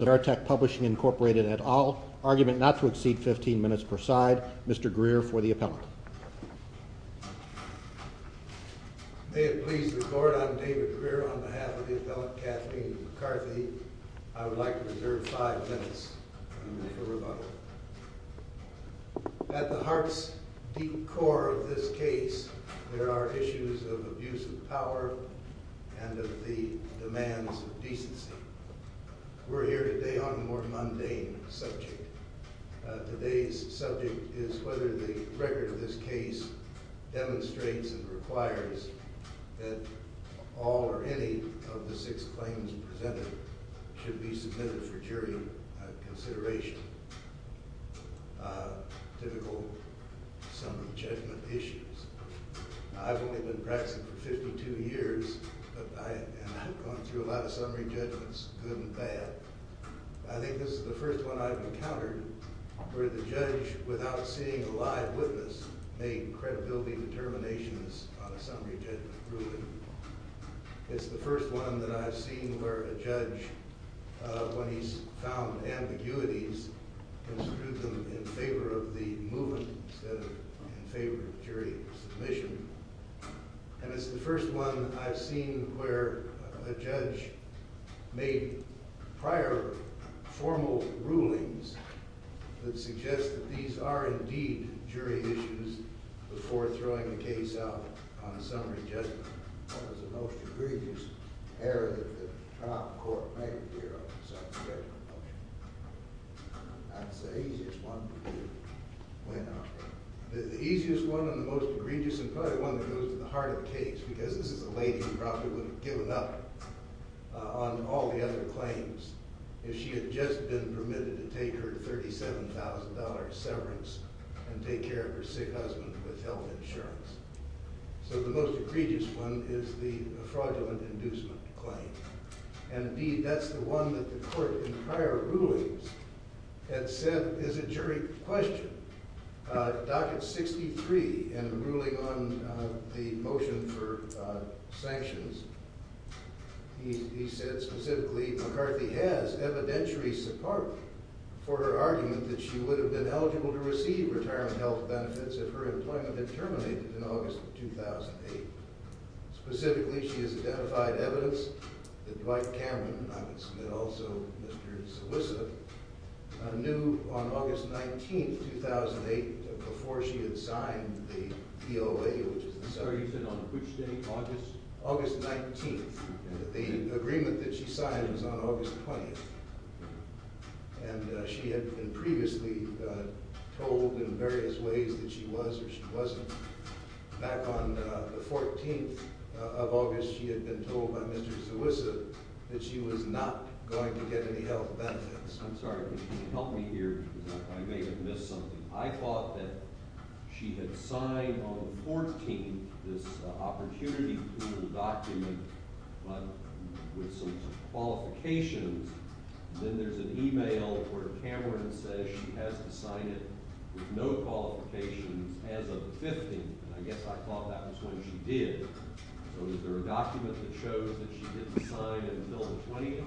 Incorporated et al. Argument not to exceed 15 minutes per side. Mr. Greer for the appellate. May it please the court, I'm David Greer on behalf of the appellate Kathleen McCarthy. I would like to reserve five minutes for rebuttal. At the heart's deep core of this case there are issues of abuse of power and of the demands of decency. We're here today on a more mundane subject. Today's subject is whether the record of this case demonstrates and requires that all or any of the six claims presented should be submitted for jury consideration. Typical of this case is the fact that it's a case where the judge, without seeing a live witness, made credibility determinations on a summary judgment ruling. It's the first one that I've seen where a judge made prior formal rulings that suggest that these are indeed jury issues before throwing a case out on a summary judgment. That was the most egregious error that the most egregious and probably one that goes to the heart of the case because this is a lady who probably would have given up on all the other claims if she had just been permitted to take her $37,000 severance and take care of her sick husband with health insurance. So the most egregious one is the fraudulent inducement claim. And indeed that's the one that the court in ruling on the motion for sanctions. He said specifically McCarthy has evidentiary support for her argument that she would have been eligible to receive retirement health benefits if her employment had terminated in August of 2008. Specifically she has identified evidence that she had signed the DOA, which is the... I'm sorry, you said on which day, August? August 19th. The agreement that she signed was on August 20th. And she had been previously told in various ways that she was or she wasn't. Back on the 14th of August she had been told by Mr. Zewisa that she was not going to get any health benefits. I'm sorry, can you help me here? I may have missed something. I thought that she had signed on the 14th this opportunity pool document but with some qualifications. Then there's an email where Cameron says she has to sign it with no qualifications as of the 15th. I guess I thought that was when she did. So is there a document that shows that she didn't sign until the 20th?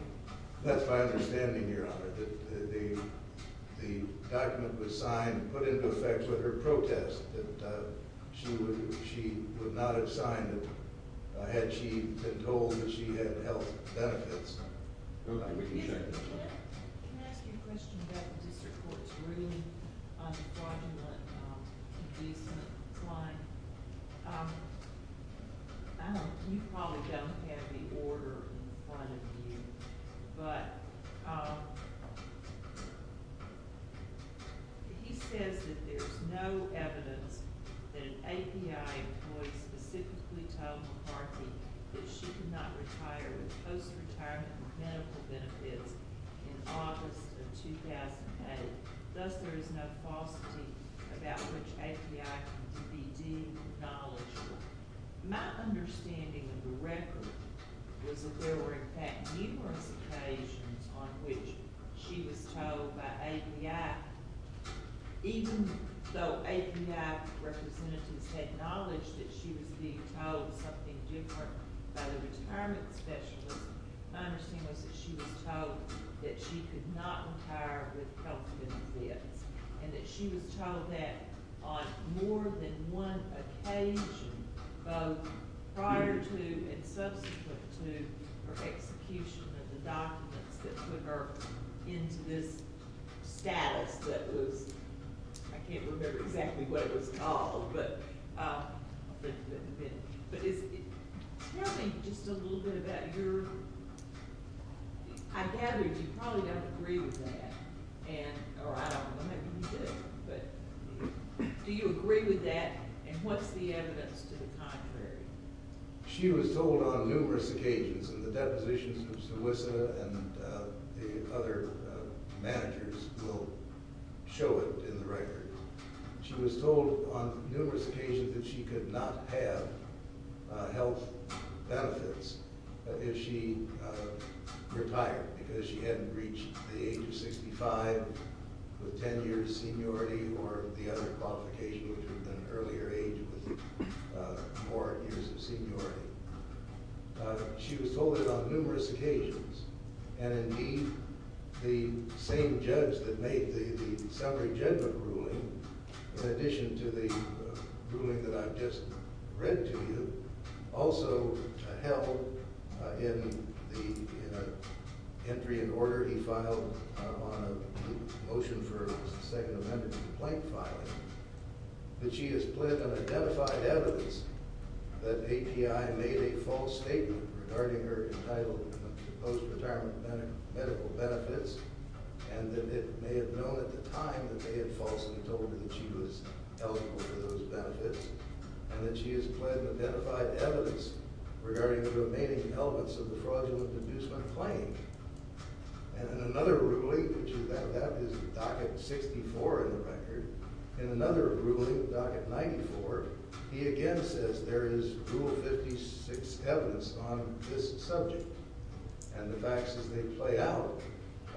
That's my understanding here, that the document was signed and put into effect with her protest that she would not have signed had she been told that she had health benefits. Can I ask you a question about the district court's ruling on the fraudulent inducement plan? You probably don't have the order in front of you, but he says that there's no falsity about which API can be deemed knowledgeable. My understanding of the record was that there were in fact numerous occasions on which she was told by API. Even though API representatives had acknowledged that she was being told something different by the retirement specialist, my understanding was that she was told that she could not retire with health benefits. And that she was told that on more than one occasion, both prior to and subsequent to her execution of the documents that put her into this status that was, I can't remember exactly what it was called. Tell me just a little bit about your, I gather you probably don't agree with that, or I don't know, maybe you do, but do you agree with that and what's the evidence to the contrary? She was told on numerous occasions, and the depositions of Sawissa and the other managers will show it in the record. She was told on numerous occasions that she could not have health benefits if she retired because she hadn't reached the age of 65 with 10 years of seniority or the other qualifications, an earlier age with more years of seniority. She was told that on numerous occasions, and indeed the same judge that made the summary judgment ruling, in addition to the ruling that I've just read to you, also held in the entry in order he filed on a motion for a second amendment complaint filing, that she has pled an identified evidence that API made a false statement regarding her entitled post-retirement medical benefits, and that it may have known at the time that they had falsely told her that she was eligible for those benefits, and that she has pled an identified evidence regarding the remaining elements of the fraudulent inducement claim. And in another ruling, that is docket 64 in the record, in another ruling, docket 94, he again says there is rule 56 evidence on this subject, and the facts as they play out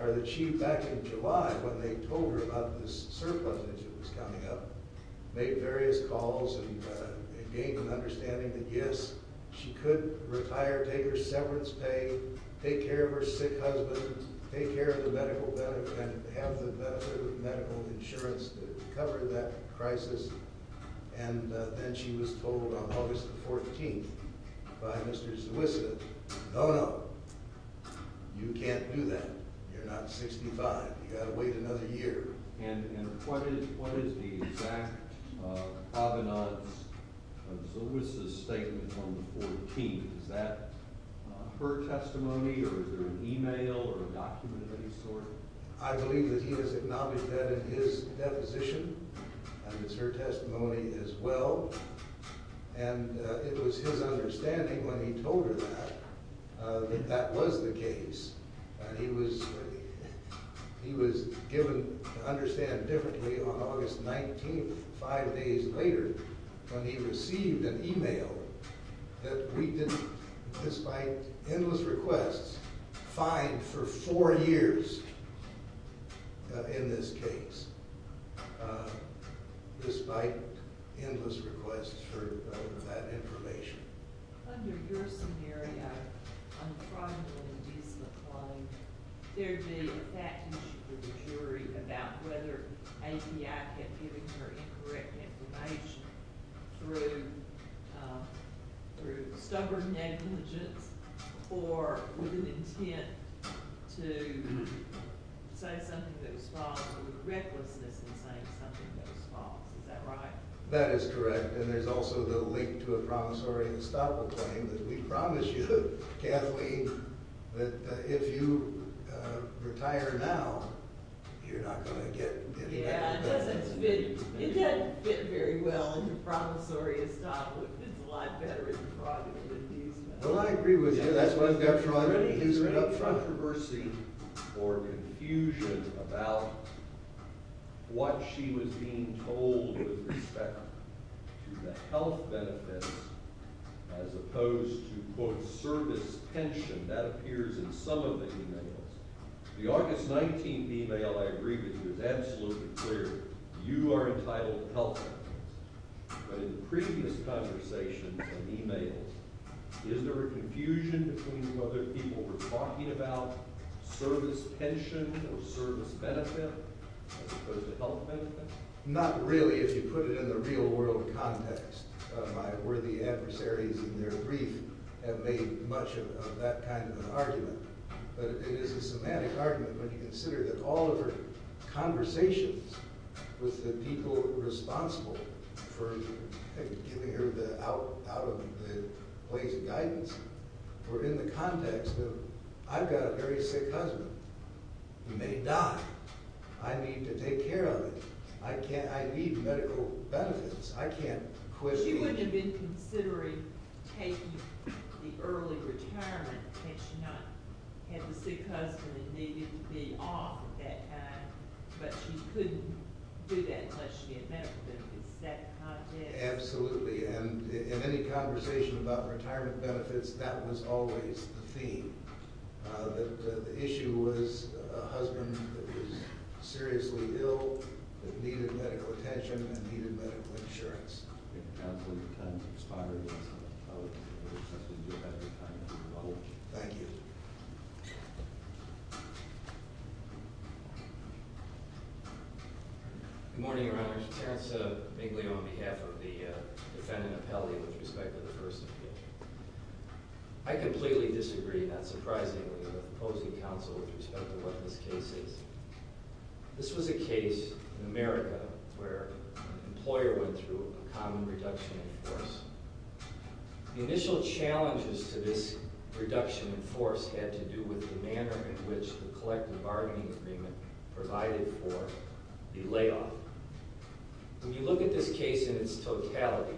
are that she, back in July when they told her about this surplus issue that was coming up, made various calls and gained an understanding that yes, she could retire, take her severance pay, take care of her sick husband, take care of the medical benefits, have the medical insurance to cover that crisis, and then she was told on August the 14th by Mr. Zewisa, no, no, you can't do that, you're not 65, you've got to wait another year. And what is the exact provenance of Zewisa's statement on the 14th, is that her testimony or is there an email or a document of any sort? I believe that he has acknowledged that in his deposition, and it's her testimony as well, and it was his understanding when he told her that, that that was the case. He was given to understand differently on August 19th, five days later, when he received an email that we didn't, despite endless requests, find for four years in this case, despite endless requests for that information. Under your scenario, I'm trying to make a reasonable claim, there'd be a fact issue for the jury about whether API had given her incorrect information through stubborn negligence or with an intent to say something that was false, or with recklessness in saying something that was false, is that right? That is correct, and there's also the link to a promissory estoppel claim that we promise you, Kathleen, that if you retire now, you're not going to get any of that information. Yeah, it doesn't fit, it doesn't fit very well in the promissory estoppel, it fits a lot better in the fraudulent indictments. Well, I agree with you, that's what I'm determined to do. Is there enough controversy or confusion about what she was being told with respect to the health benefits as opposed to, quote, service pension? That appears in some of the emails. The August 19th email, I agree with you, is absolutely clear, you are entitled to health benefits, but in previous conversations and emails, is there a confusion between whether people were talking about service pension or service benefit as opposed to health benefit? Not really, if you put it in the real world context. My worthy adversaries in their brief have made much of that kind of an argument, but it is a semantic argument when you consider that all of her conversations with the people responsible for giving her out of the ways of guidance were in the context of, I've got a very sick husband, he may die, I need to take care of him, I need medical benefits, I can't quit. She wouldn't have been considering taking the early retirement in case she not had the sick husband and needed to be off at that time, but she couldn't do that unless she had medical benefits. Absolutely, and in any conversation about retirement benefits, that was always the theme. The issue was a husband that was seriously ill, that needed medical attention and needed medical insurance. Thank you. Good morning, Your Honor. Terence Bingley on behalf of the defendant appellee with respect to the first appeal. I completely disagree, not surprisingly, with opposing counsel with respect to what this case is. This was a case in America where an employer went through a common reduction in force. The initial challenges to this reduction in force had to do with the manner in which the collective bargaining agreement provided for the layoff. When you look at this case in its totality,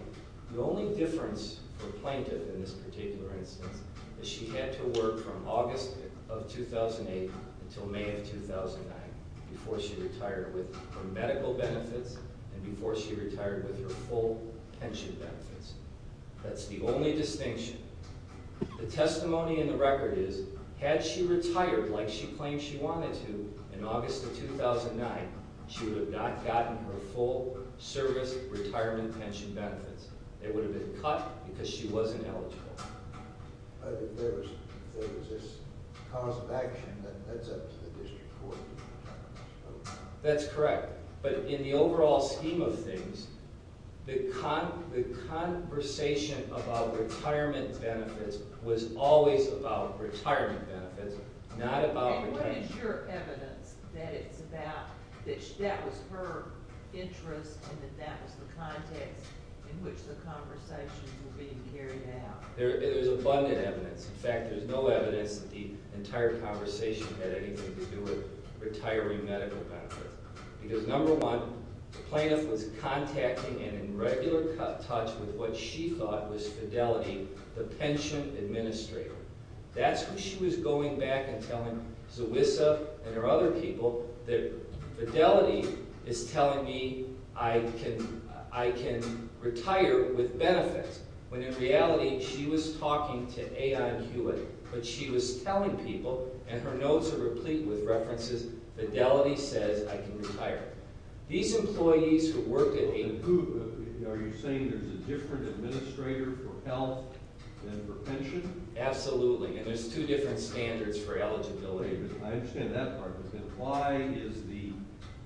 the only difference for plaintiff in this case is the fact that the plaintiff did not retire in 2009 before she retired with her medical benefits and before she retired with her full pension benefits. That's the only distinction. The testimony in the record is, had she retired like she claimed she wanted to in August of 2009, she would have not gotten her full service retirement pension benefits. They would have been cut because she wasn't eligible. There was this cause of action that led up to the district court. That's correct. But in the overall scheme of things, the conversation about retirement benefits was always about retirement benefits, not about... And what is your evidence that it's about, that that was her interest and that that was the context in which the conversations were being carried out? There's abundant evidence. In fact, there's no evidence that the entire conversation had anything to do with retiring medical benefits. Because number one, the plaintiff was contacting and in regular touch with what she thought was Fidelity, the pension administrator. That's who she was going back and telling Zewisa and her other people that Fidelity is telling me I can retire with benefits. When in reality, she was talking to A.I. Hewitt, but she was telling people, and her notes are replete with references, Fidelity says I can retire. These employees who work at a... And who? Are you saying there's a different administrator for health than for pension? Absolutely. And there's two different standards for eligibility. Okay, but I understand that part, but then why is the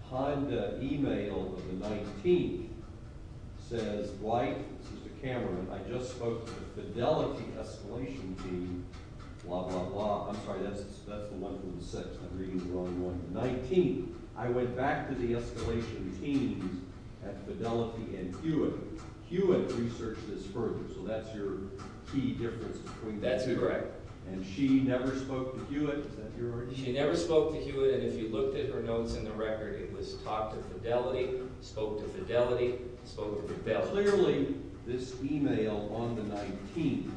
Honda email of the 19th says, Dwight, this is to Cameron, I just spoke to the Fidelity escalation team, blah, blah, blah. I'm sorry, that's the one from the 6th, I'm reading the wrong one. The 19th, I went back to the escalation team at Fidelity and Hewitt. Hewitt researched this further, so that's your key difference between the two. That's correct. And she never spoke to Hewitt. Is that your idea? She never spoke to Hewitt, and if you looked at her notes in the record, it was talk to Fidelity, spoke to Fidelity, spoke to Fidelity. Clearly, this email on the 19th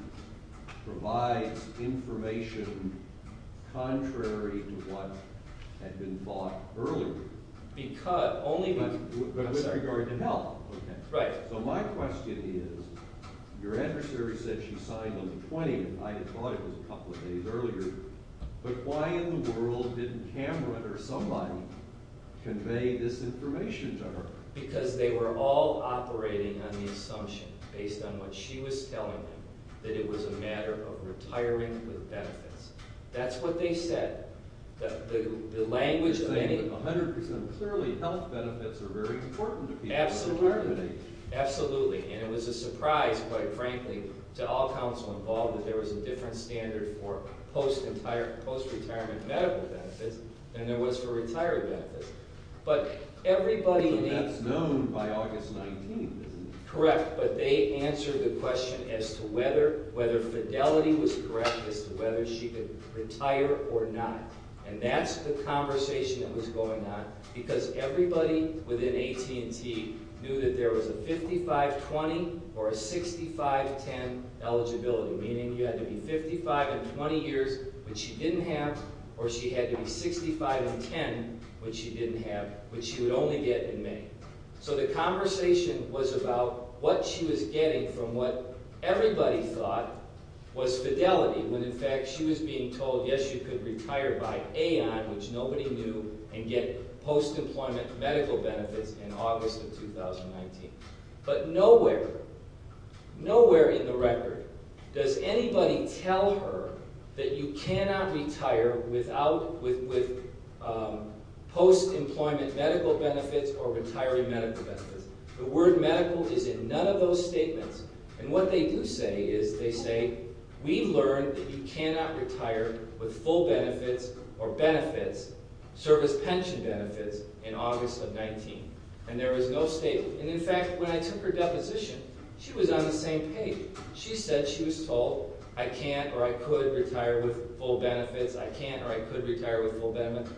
provides information contrary to what had been thought earlier. Because only... But with regard to health. Right. So my question is, your adversary said she signed on the 20th, I had thought it was a But why in the world didn't Cameron or somebody convey this information to her? Because they were all operating on the assumption, based on what she was telling them, that it was a matter of retiring with benefits. That's what they said. The language of any... They said that 100% clearly health benefits are very important to people in retirement age. Absolutely. And it was a surprise, quite frankly, to all counsel involved that there was a different standard for post-retirement medical benefits than there was for retired benefits. So that's known by August 19th, isn't it? Correct. But they answered the question as to whether Fidelity was correct as to whether she could retire or not. And that's the conversation that was going on, because everybody within AT&T knew that there was a 55-20 or a 65-10 eligibility, meaning you had to be 55 in 20 years, which she didn't have, or she had to be 65 in 10, which she didn't have, which she would only get in May. So the conversation was about what she was getting from what everybody thought was Fidelity, when in fact she was being told, yes, you could retire by aeon, which nobody knew, and you would get post-employment medical benefits in August of 2019. But nowhere, nowhere in the record does anybody tell her that you cannot retire with post-employment medical benefits or retiring medical benefits. The word medical is in none of those statements. And what they do say is they say, we've learned that you cannot retire with full benefits or benefits, service pension benefits, in August of 19. And there was no statement. And in fact, when I took her deposition, she was on the same page. She said she was told, I can't or I could retire with full benefits, I can't or I could retire with full benefits.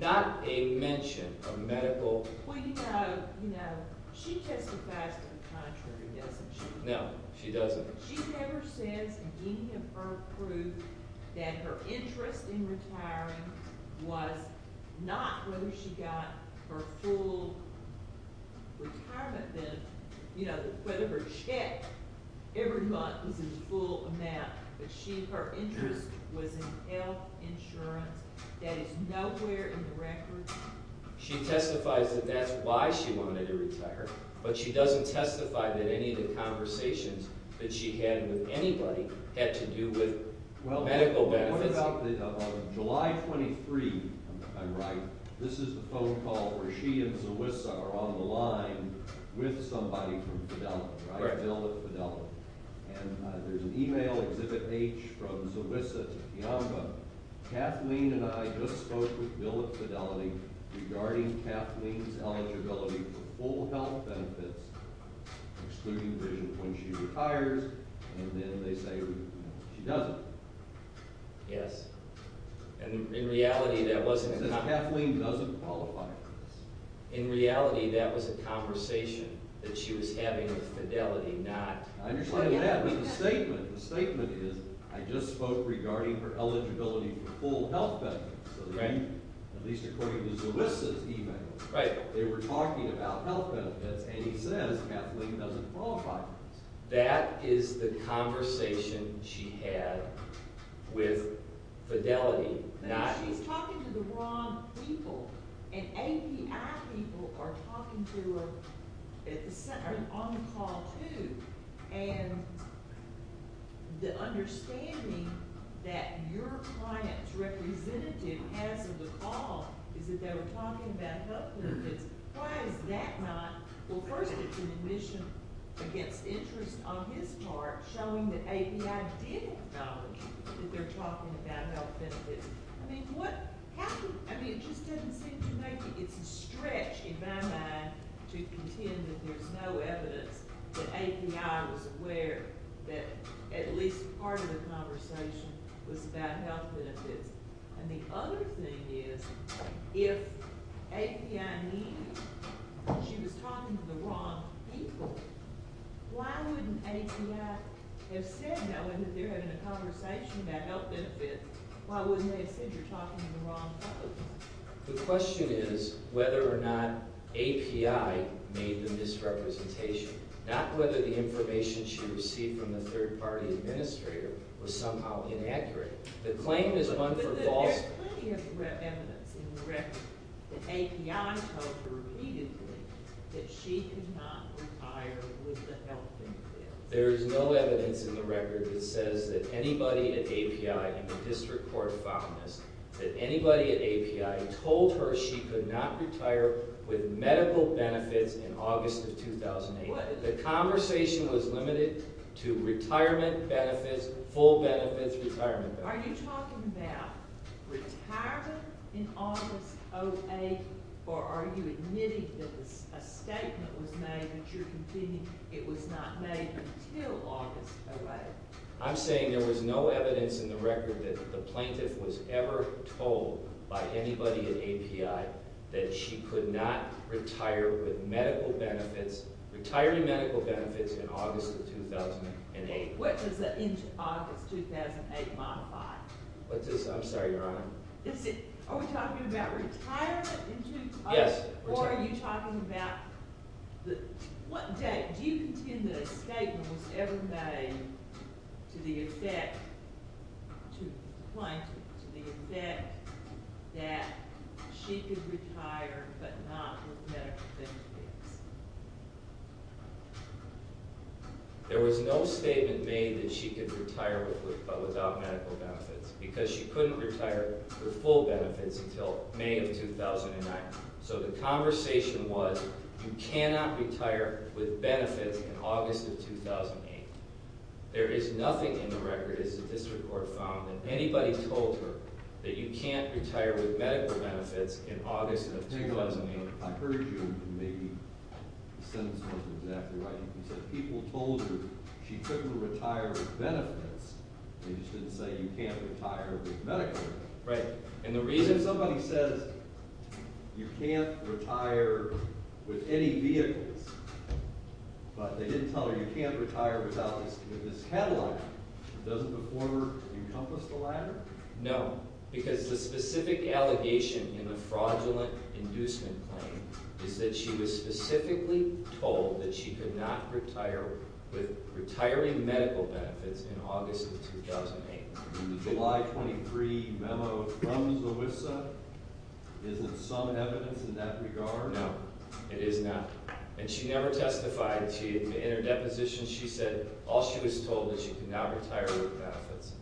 Not a mention of medical. Well, you know, she testifies to the contrary, doesn't she? No, she doesn't. But she never says any of her proof that her interest in retiring was not whether she got her full retirement benefit, you know, whether her check every month was in full amount, but she, her interest was in health insurance. That is nowhere in the record. She testifies that that's why she wanted to retire. But she doesn't testify that any of the conversations that she had with anybody had to do with medical benefits. Well, what about July 23, I'm right, this is the phone call where she and Zawisa are on the line with somebody from Fidelity, right? Right. Bill at Fidelity. And there's an email, Exhibit H, from Zawisa to Kiyama, Kathleen and I just spoke with her about full health benefits, excluding vision when she retires, and then they say she doesn't. Yes. And in reality, that wasn't. Kathleen doesn't qualify for this. In reality, that was a conversation that she was having with Fidelity, not. I understand that, but the statement, the statement is, I just spoke regarding her eligibility for full health benefits. Right. At least according to Zawisa's email. Right. They were talking about health benefits, and he says Kathleen doesn't qualify for this. That is the conversation she had with Fidelity, not. But she's talking to the wrong people, and API people are talking to her on the call too, and the understanding that your client's representative has of the call is that they were talking about health benefits. Why is that not? Well, first, it's an admission against interest on his part, showing that API didn't acknowledge that they're talking about health benefits. I mean, what happened? I mean, it just didn't seem to make it. It's a stretch in my mind to contend that there's no evidence that API was aware that at least part of the conversation was about health benefits. And the other thing is, if API knew she was talking to the wrong people, why wouldn't API have said that when they're having a conversation about health benefits, why wouldn't they have said you're talking to the wrong people? The question is whether or not API made the misrepresentation, not whether the information she received from the third-party administrator was somehow inaccurate. The claim is one for falsehood. But there's plenty of evidence in the record that API told her repeatedly that she could not retire with the health benefits. There's no evidence in the record that says that anybody at API, and the district court found this, that anybody at API told her she could not retire with medical benefits in August of 2008. The conversation was limited to retirement benefits, full benefits, retirement benefits. Are you talking about retirement in August of 2008, or are you admitting that a statement was made that you're convincing it was not made until August of 2008? I'm saying there was no evidence in the record that the plaintiff was ever told by anybody at API that she could not retire with medical benefits, retiring medical benefits in August of 2008. What does the end of August 2008 modify? I'm sorry, Your Honor. Are we talking about retirement in 2008? Yes. Or are you talking about what date? Do you contend that a statement was ever made to the effect, to the plaintiff, to the effect that she could retire but not with medical benefits? There was no statement made that she could retire without medical benefits, because she couldn't retire with full benefits until May of 2009. So the conversation was you cannot retire with benefits in August of 2008. There is nothing in the record, as the district court found, that anybody told her that you can't retire with medical benefits in August of 2008. I heard you, and maybe the sentence wasn't exactly right. You said people told her she couldn't retire with benefits. They just didn't say you can't retire with medical benefits. Right. And the reason somebody says you can't retire with any vehicles, but they didn't tell her you can't retire without this Cadillac, doesn't the former encompass the latter? No, because the specific allegation in the fraudulent inducement claim is that she was specifically told that she could not retire with retiring medical benefits in August of 2008. In the July 23 memo from Louisa, is there some evidence in that regard? No, it is not. And she never testified. In her deposition, she said all she was told was she could not retire with benefits.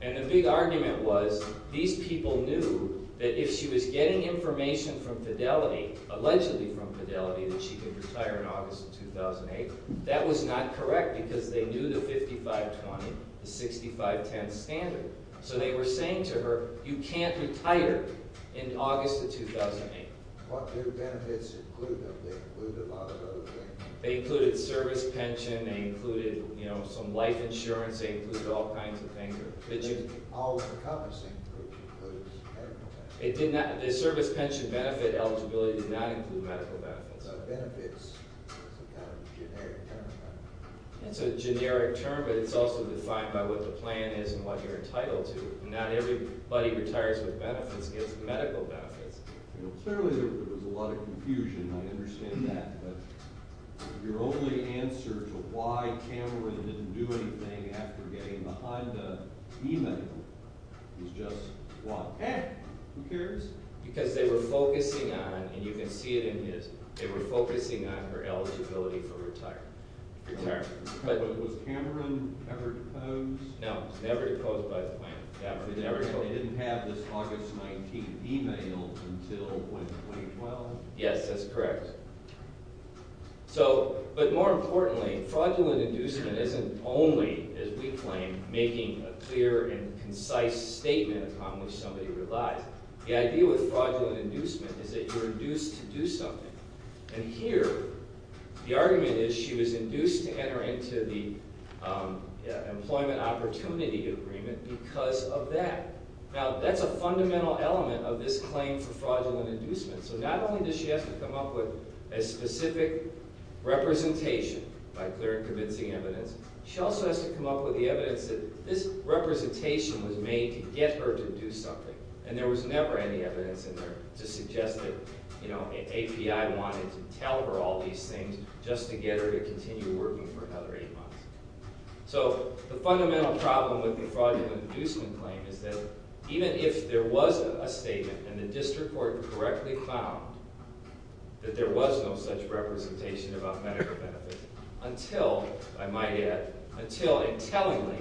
And the big argument was these people knew that if she was getting information from Fidelity, allegedly from Fidelity, that she could retire in August of 2008. That was not correct, because they knew the 5520, the 6510 standard. So they were saying to her, you can't retire in August of 2008. What do benefits include, though? They include a lot of other things. They included service pension. They included some life insurance. They included all kinds of things. All encompassing, which includes medical benefits. The service pension benefit eligibility did not include medical benefits. Benefits is a kind of generic term. It's a generic term, but it's also defined by what the plan is and what you're entitled to. Not everybody retires with benefits and gets medical benefits. Clearly, there was a lot of confusion. I understand that. But your only answer to why Cameron didn't do anything after getting behind the e-mail is just what? Eh, who cares? Because they were focusing on, and you can see it in his, they were focusing on her eligibility for retirement. But was Cameron ever deposed? No, he was never deposed by the plan. They didn't have this August 19th e-mail until when, 2012? Yes, that's correct. But more importantly, fraudulent inducement isn't only, as we claim, making a clear and concise statement upon which somebody relies. The idea with fraudulent inducement is that you're induced to do something. And here, the argument is she was induced to enter into the employment opportunity agreement because of that. Now, that's a fundamental element of this claim for fraudulent inducement. So not only does she have to come up with a specific representation by clear and convincing evidence, she also has to come up with the evidence that this representation was made to get her to do something. And there was never any evidence in there to suggest that, you know, API wanted to tell her all these things just to get her to continue working for another eight months. So the fundamental problem with the fraudulent inducement claim is that even if there was a statement and the district court correctly found that there was no such representation about medical benefits, until, I might add, until intelligently,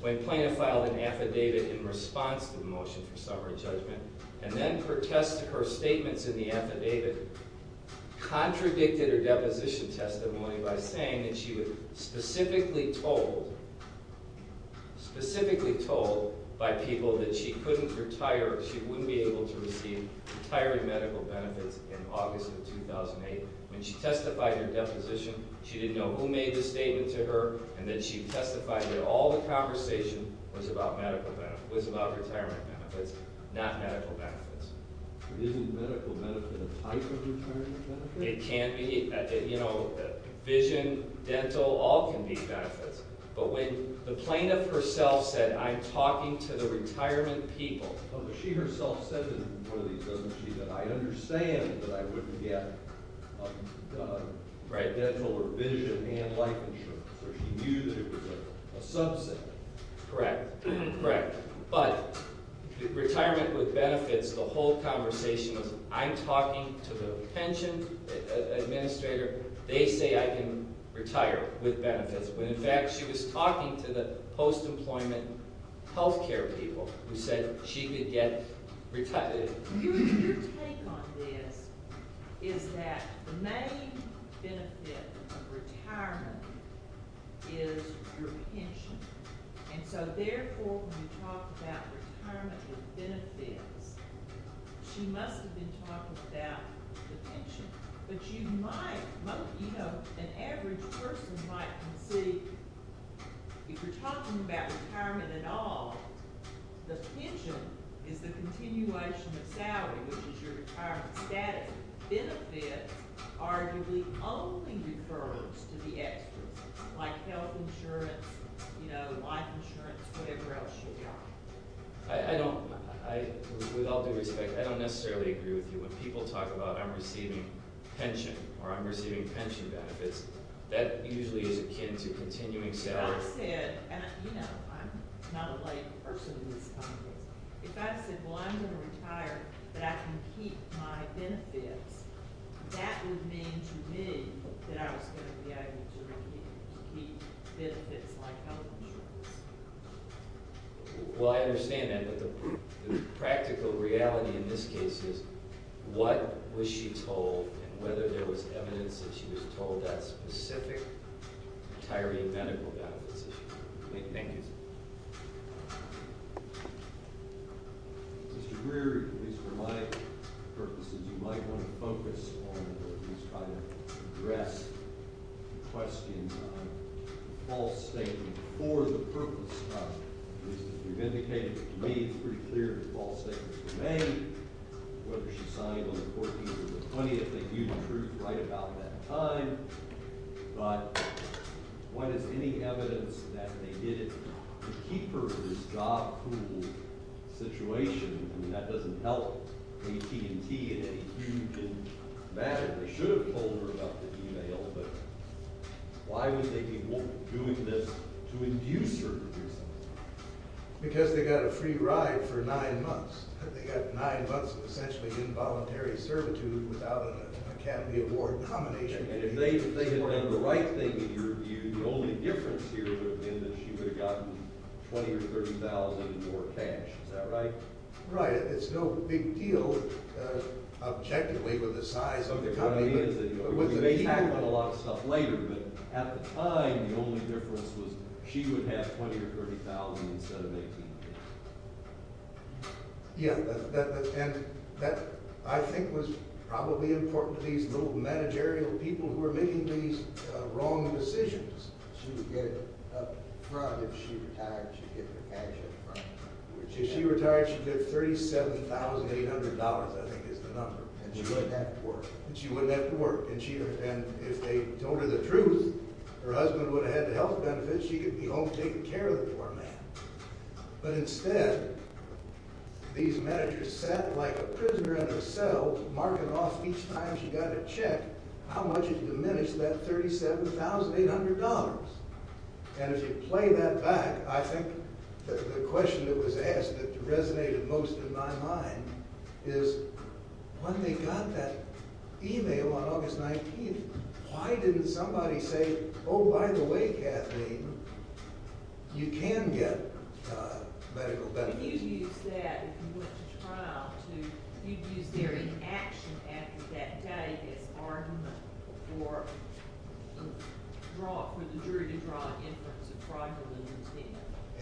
when Plano filed an affidavit in response to the motion for summary judgment and then her statements in the affidavit contradicted her deposition testimony by saying that she was specifically told by people that she wouldn't be able to receive retiree medical benefits in August of 2008. When she testified in her deposition, she didn't know who made the statement to her, and then she testified that all the conversation was about medical benefits, was about retirement benefits, not medical benefits. It isn't medical benefits. I could be retiring benefits. It can be. You know, vision, dental, all can be benefits. But when the plaintiff herself said, I'm talking to the retirement people. But she herself said in one of these, doesn't she, that I understand that I wouldn't get dental or vision and life insurance. So she knew there was a subset. Correct. Correct. But retirement with benefits, the whole conversation was I'm talking to the pension administrator. They say I can retire with benefits. But in fact, she was talking to the post-employment health care people who said she could get retired. Your take on this is that the main benefit of retirement is your pension. And so therefore, when you talk about retirement with benefits, she must have been talking about the pension. But you might, you know, an average person might concede, if you're talking about retirement at all, the pension is the continuation of salary, which is your retirement status. Benefit arguably only refers to the extras, like health insurance, you know, life insurance, whatever else you've got. I don't, with all due respect, I don't necessarily agree with you. When people talk about I'm receiving pension or I'm receiving pension benefits, that usually is akin to continuing salary. But I said, you know, I'm not a lay person in this context. If I said, well, I'm going to retire, but I can keep my benefits, that would mean to me that I was going to be able to keep benefits like health insurance. Well, I understand that. But the practical reality in this case is what was she told and whether there was evidence that she was told that specific retiree medical benefits issue. Thank you. Mr. Greer, at least for my purposes, you might want to focus on or at least try to address the question of false statement for the purpose of, at least as you've indicated to me, it's pretty clear that false statements were made, whether she signed on the 14th or the 20th, which I think you proved right about that time. But what is any evidence that they did it to keep her in this job pool situation? And that doesn't help AT&T in any huge way. They should have told her about the email. But why would they be doing this to induce her to do something? Because they got a free ride for nine months. They got nine months of essentially involuntary servitude without an Academy Award combination. And if they had done the right thing in your view, the only difference here would have been that she would have gotten $20,000 or $30,000 in more cash. Is that right? Right. It's no big deal, objectively, with the size of the company. We may tackle a lot of stuff later. But at the time, the only difference was she would have $20,000 or $30,000 instead of $18,000. Yeah. And that, I think, was probably important to these little managerial people who were making these wrong decisions. She would get it up front if she retired. She'd get her cash up front. If she retired, she'd get $37,800, I think is the number. And she wouldn't have to work. And she wouldn't have to work. And if they told her the truth, her husband would have had the health benefits. She could be home taking care of the poor man. But instead, these managers sat like a prisoner in a cell marking off each time she got a check how much it diminished, that $37,800. And if you play that back, I think the question that was asked that resonated most in my mind is when they got that e-mail on August 19th, why didn't somebody say, oh, by the way, Kathleen, you can get medical benefits?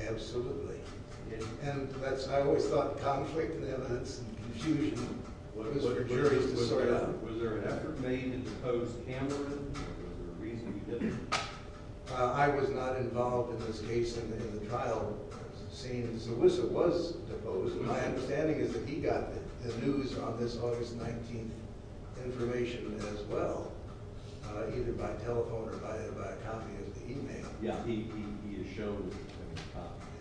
Absolutely. And I always thought conflict and evidence and confusion was for juries to sort out. Was there an effort made to impose hammering? Was there a reason you didn't? I was not involved in this case in the trial scenes. Melissa was deposed. And my understanding is that he got the news on this August 19th information as well, either by telephone or by a copy of the e-mail. Yeah, he showed.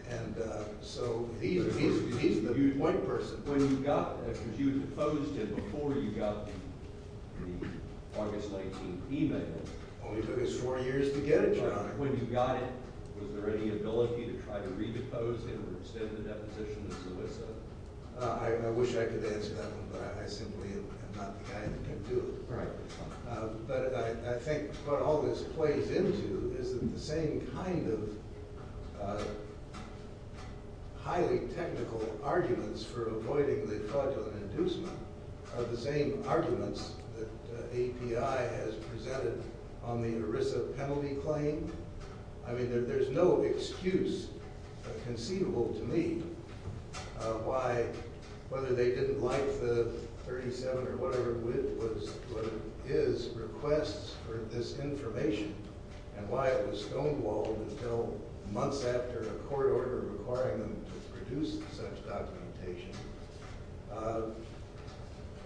And so he's the white person. When you got that, because you deposed him before you got the August 19th e-mail. It only took us four years to get it, John. When you got it, was there any ability to try to re-depose him or extend the deposition to Solisa? I wish I could answer that one, but I simply am not the guy who can do it. Right. But I think what all this plays into is that the same kind of highly technical arguments for avoiding the fraudulent inducement are the same arguments that API has presented on the ERISA penalty claim. I mean, there's no excuse conceivable to me why, whether they didn't like the 37 or whatever it is, requests for this information, and why it was stonewalled until months after a court order requiring them to produce such documentation.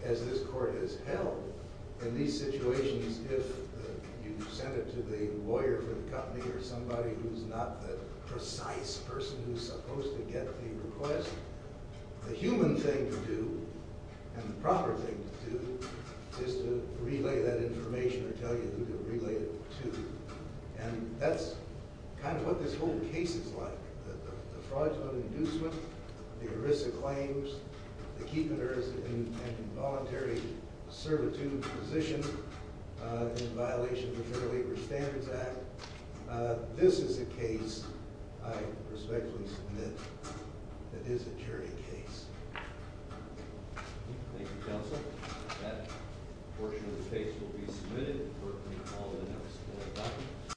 As this court has held, in these situations, if you send it to the lawyer for the company or somebody who's not the precise person who's supposed to get the request, the human thing to do and the proper thing to do is to relay that information or tell you who to relay it to. And that's kind of what this whole case is like. The fraudulent inducement, the ERISA claims, the keepers in voluntary servitude position in violation of the Fair Labor Standards Act. This is a case I respectfully submit that is a jury case. Thank you, counsel. That portion of the case will be submitted for recall in the next court document.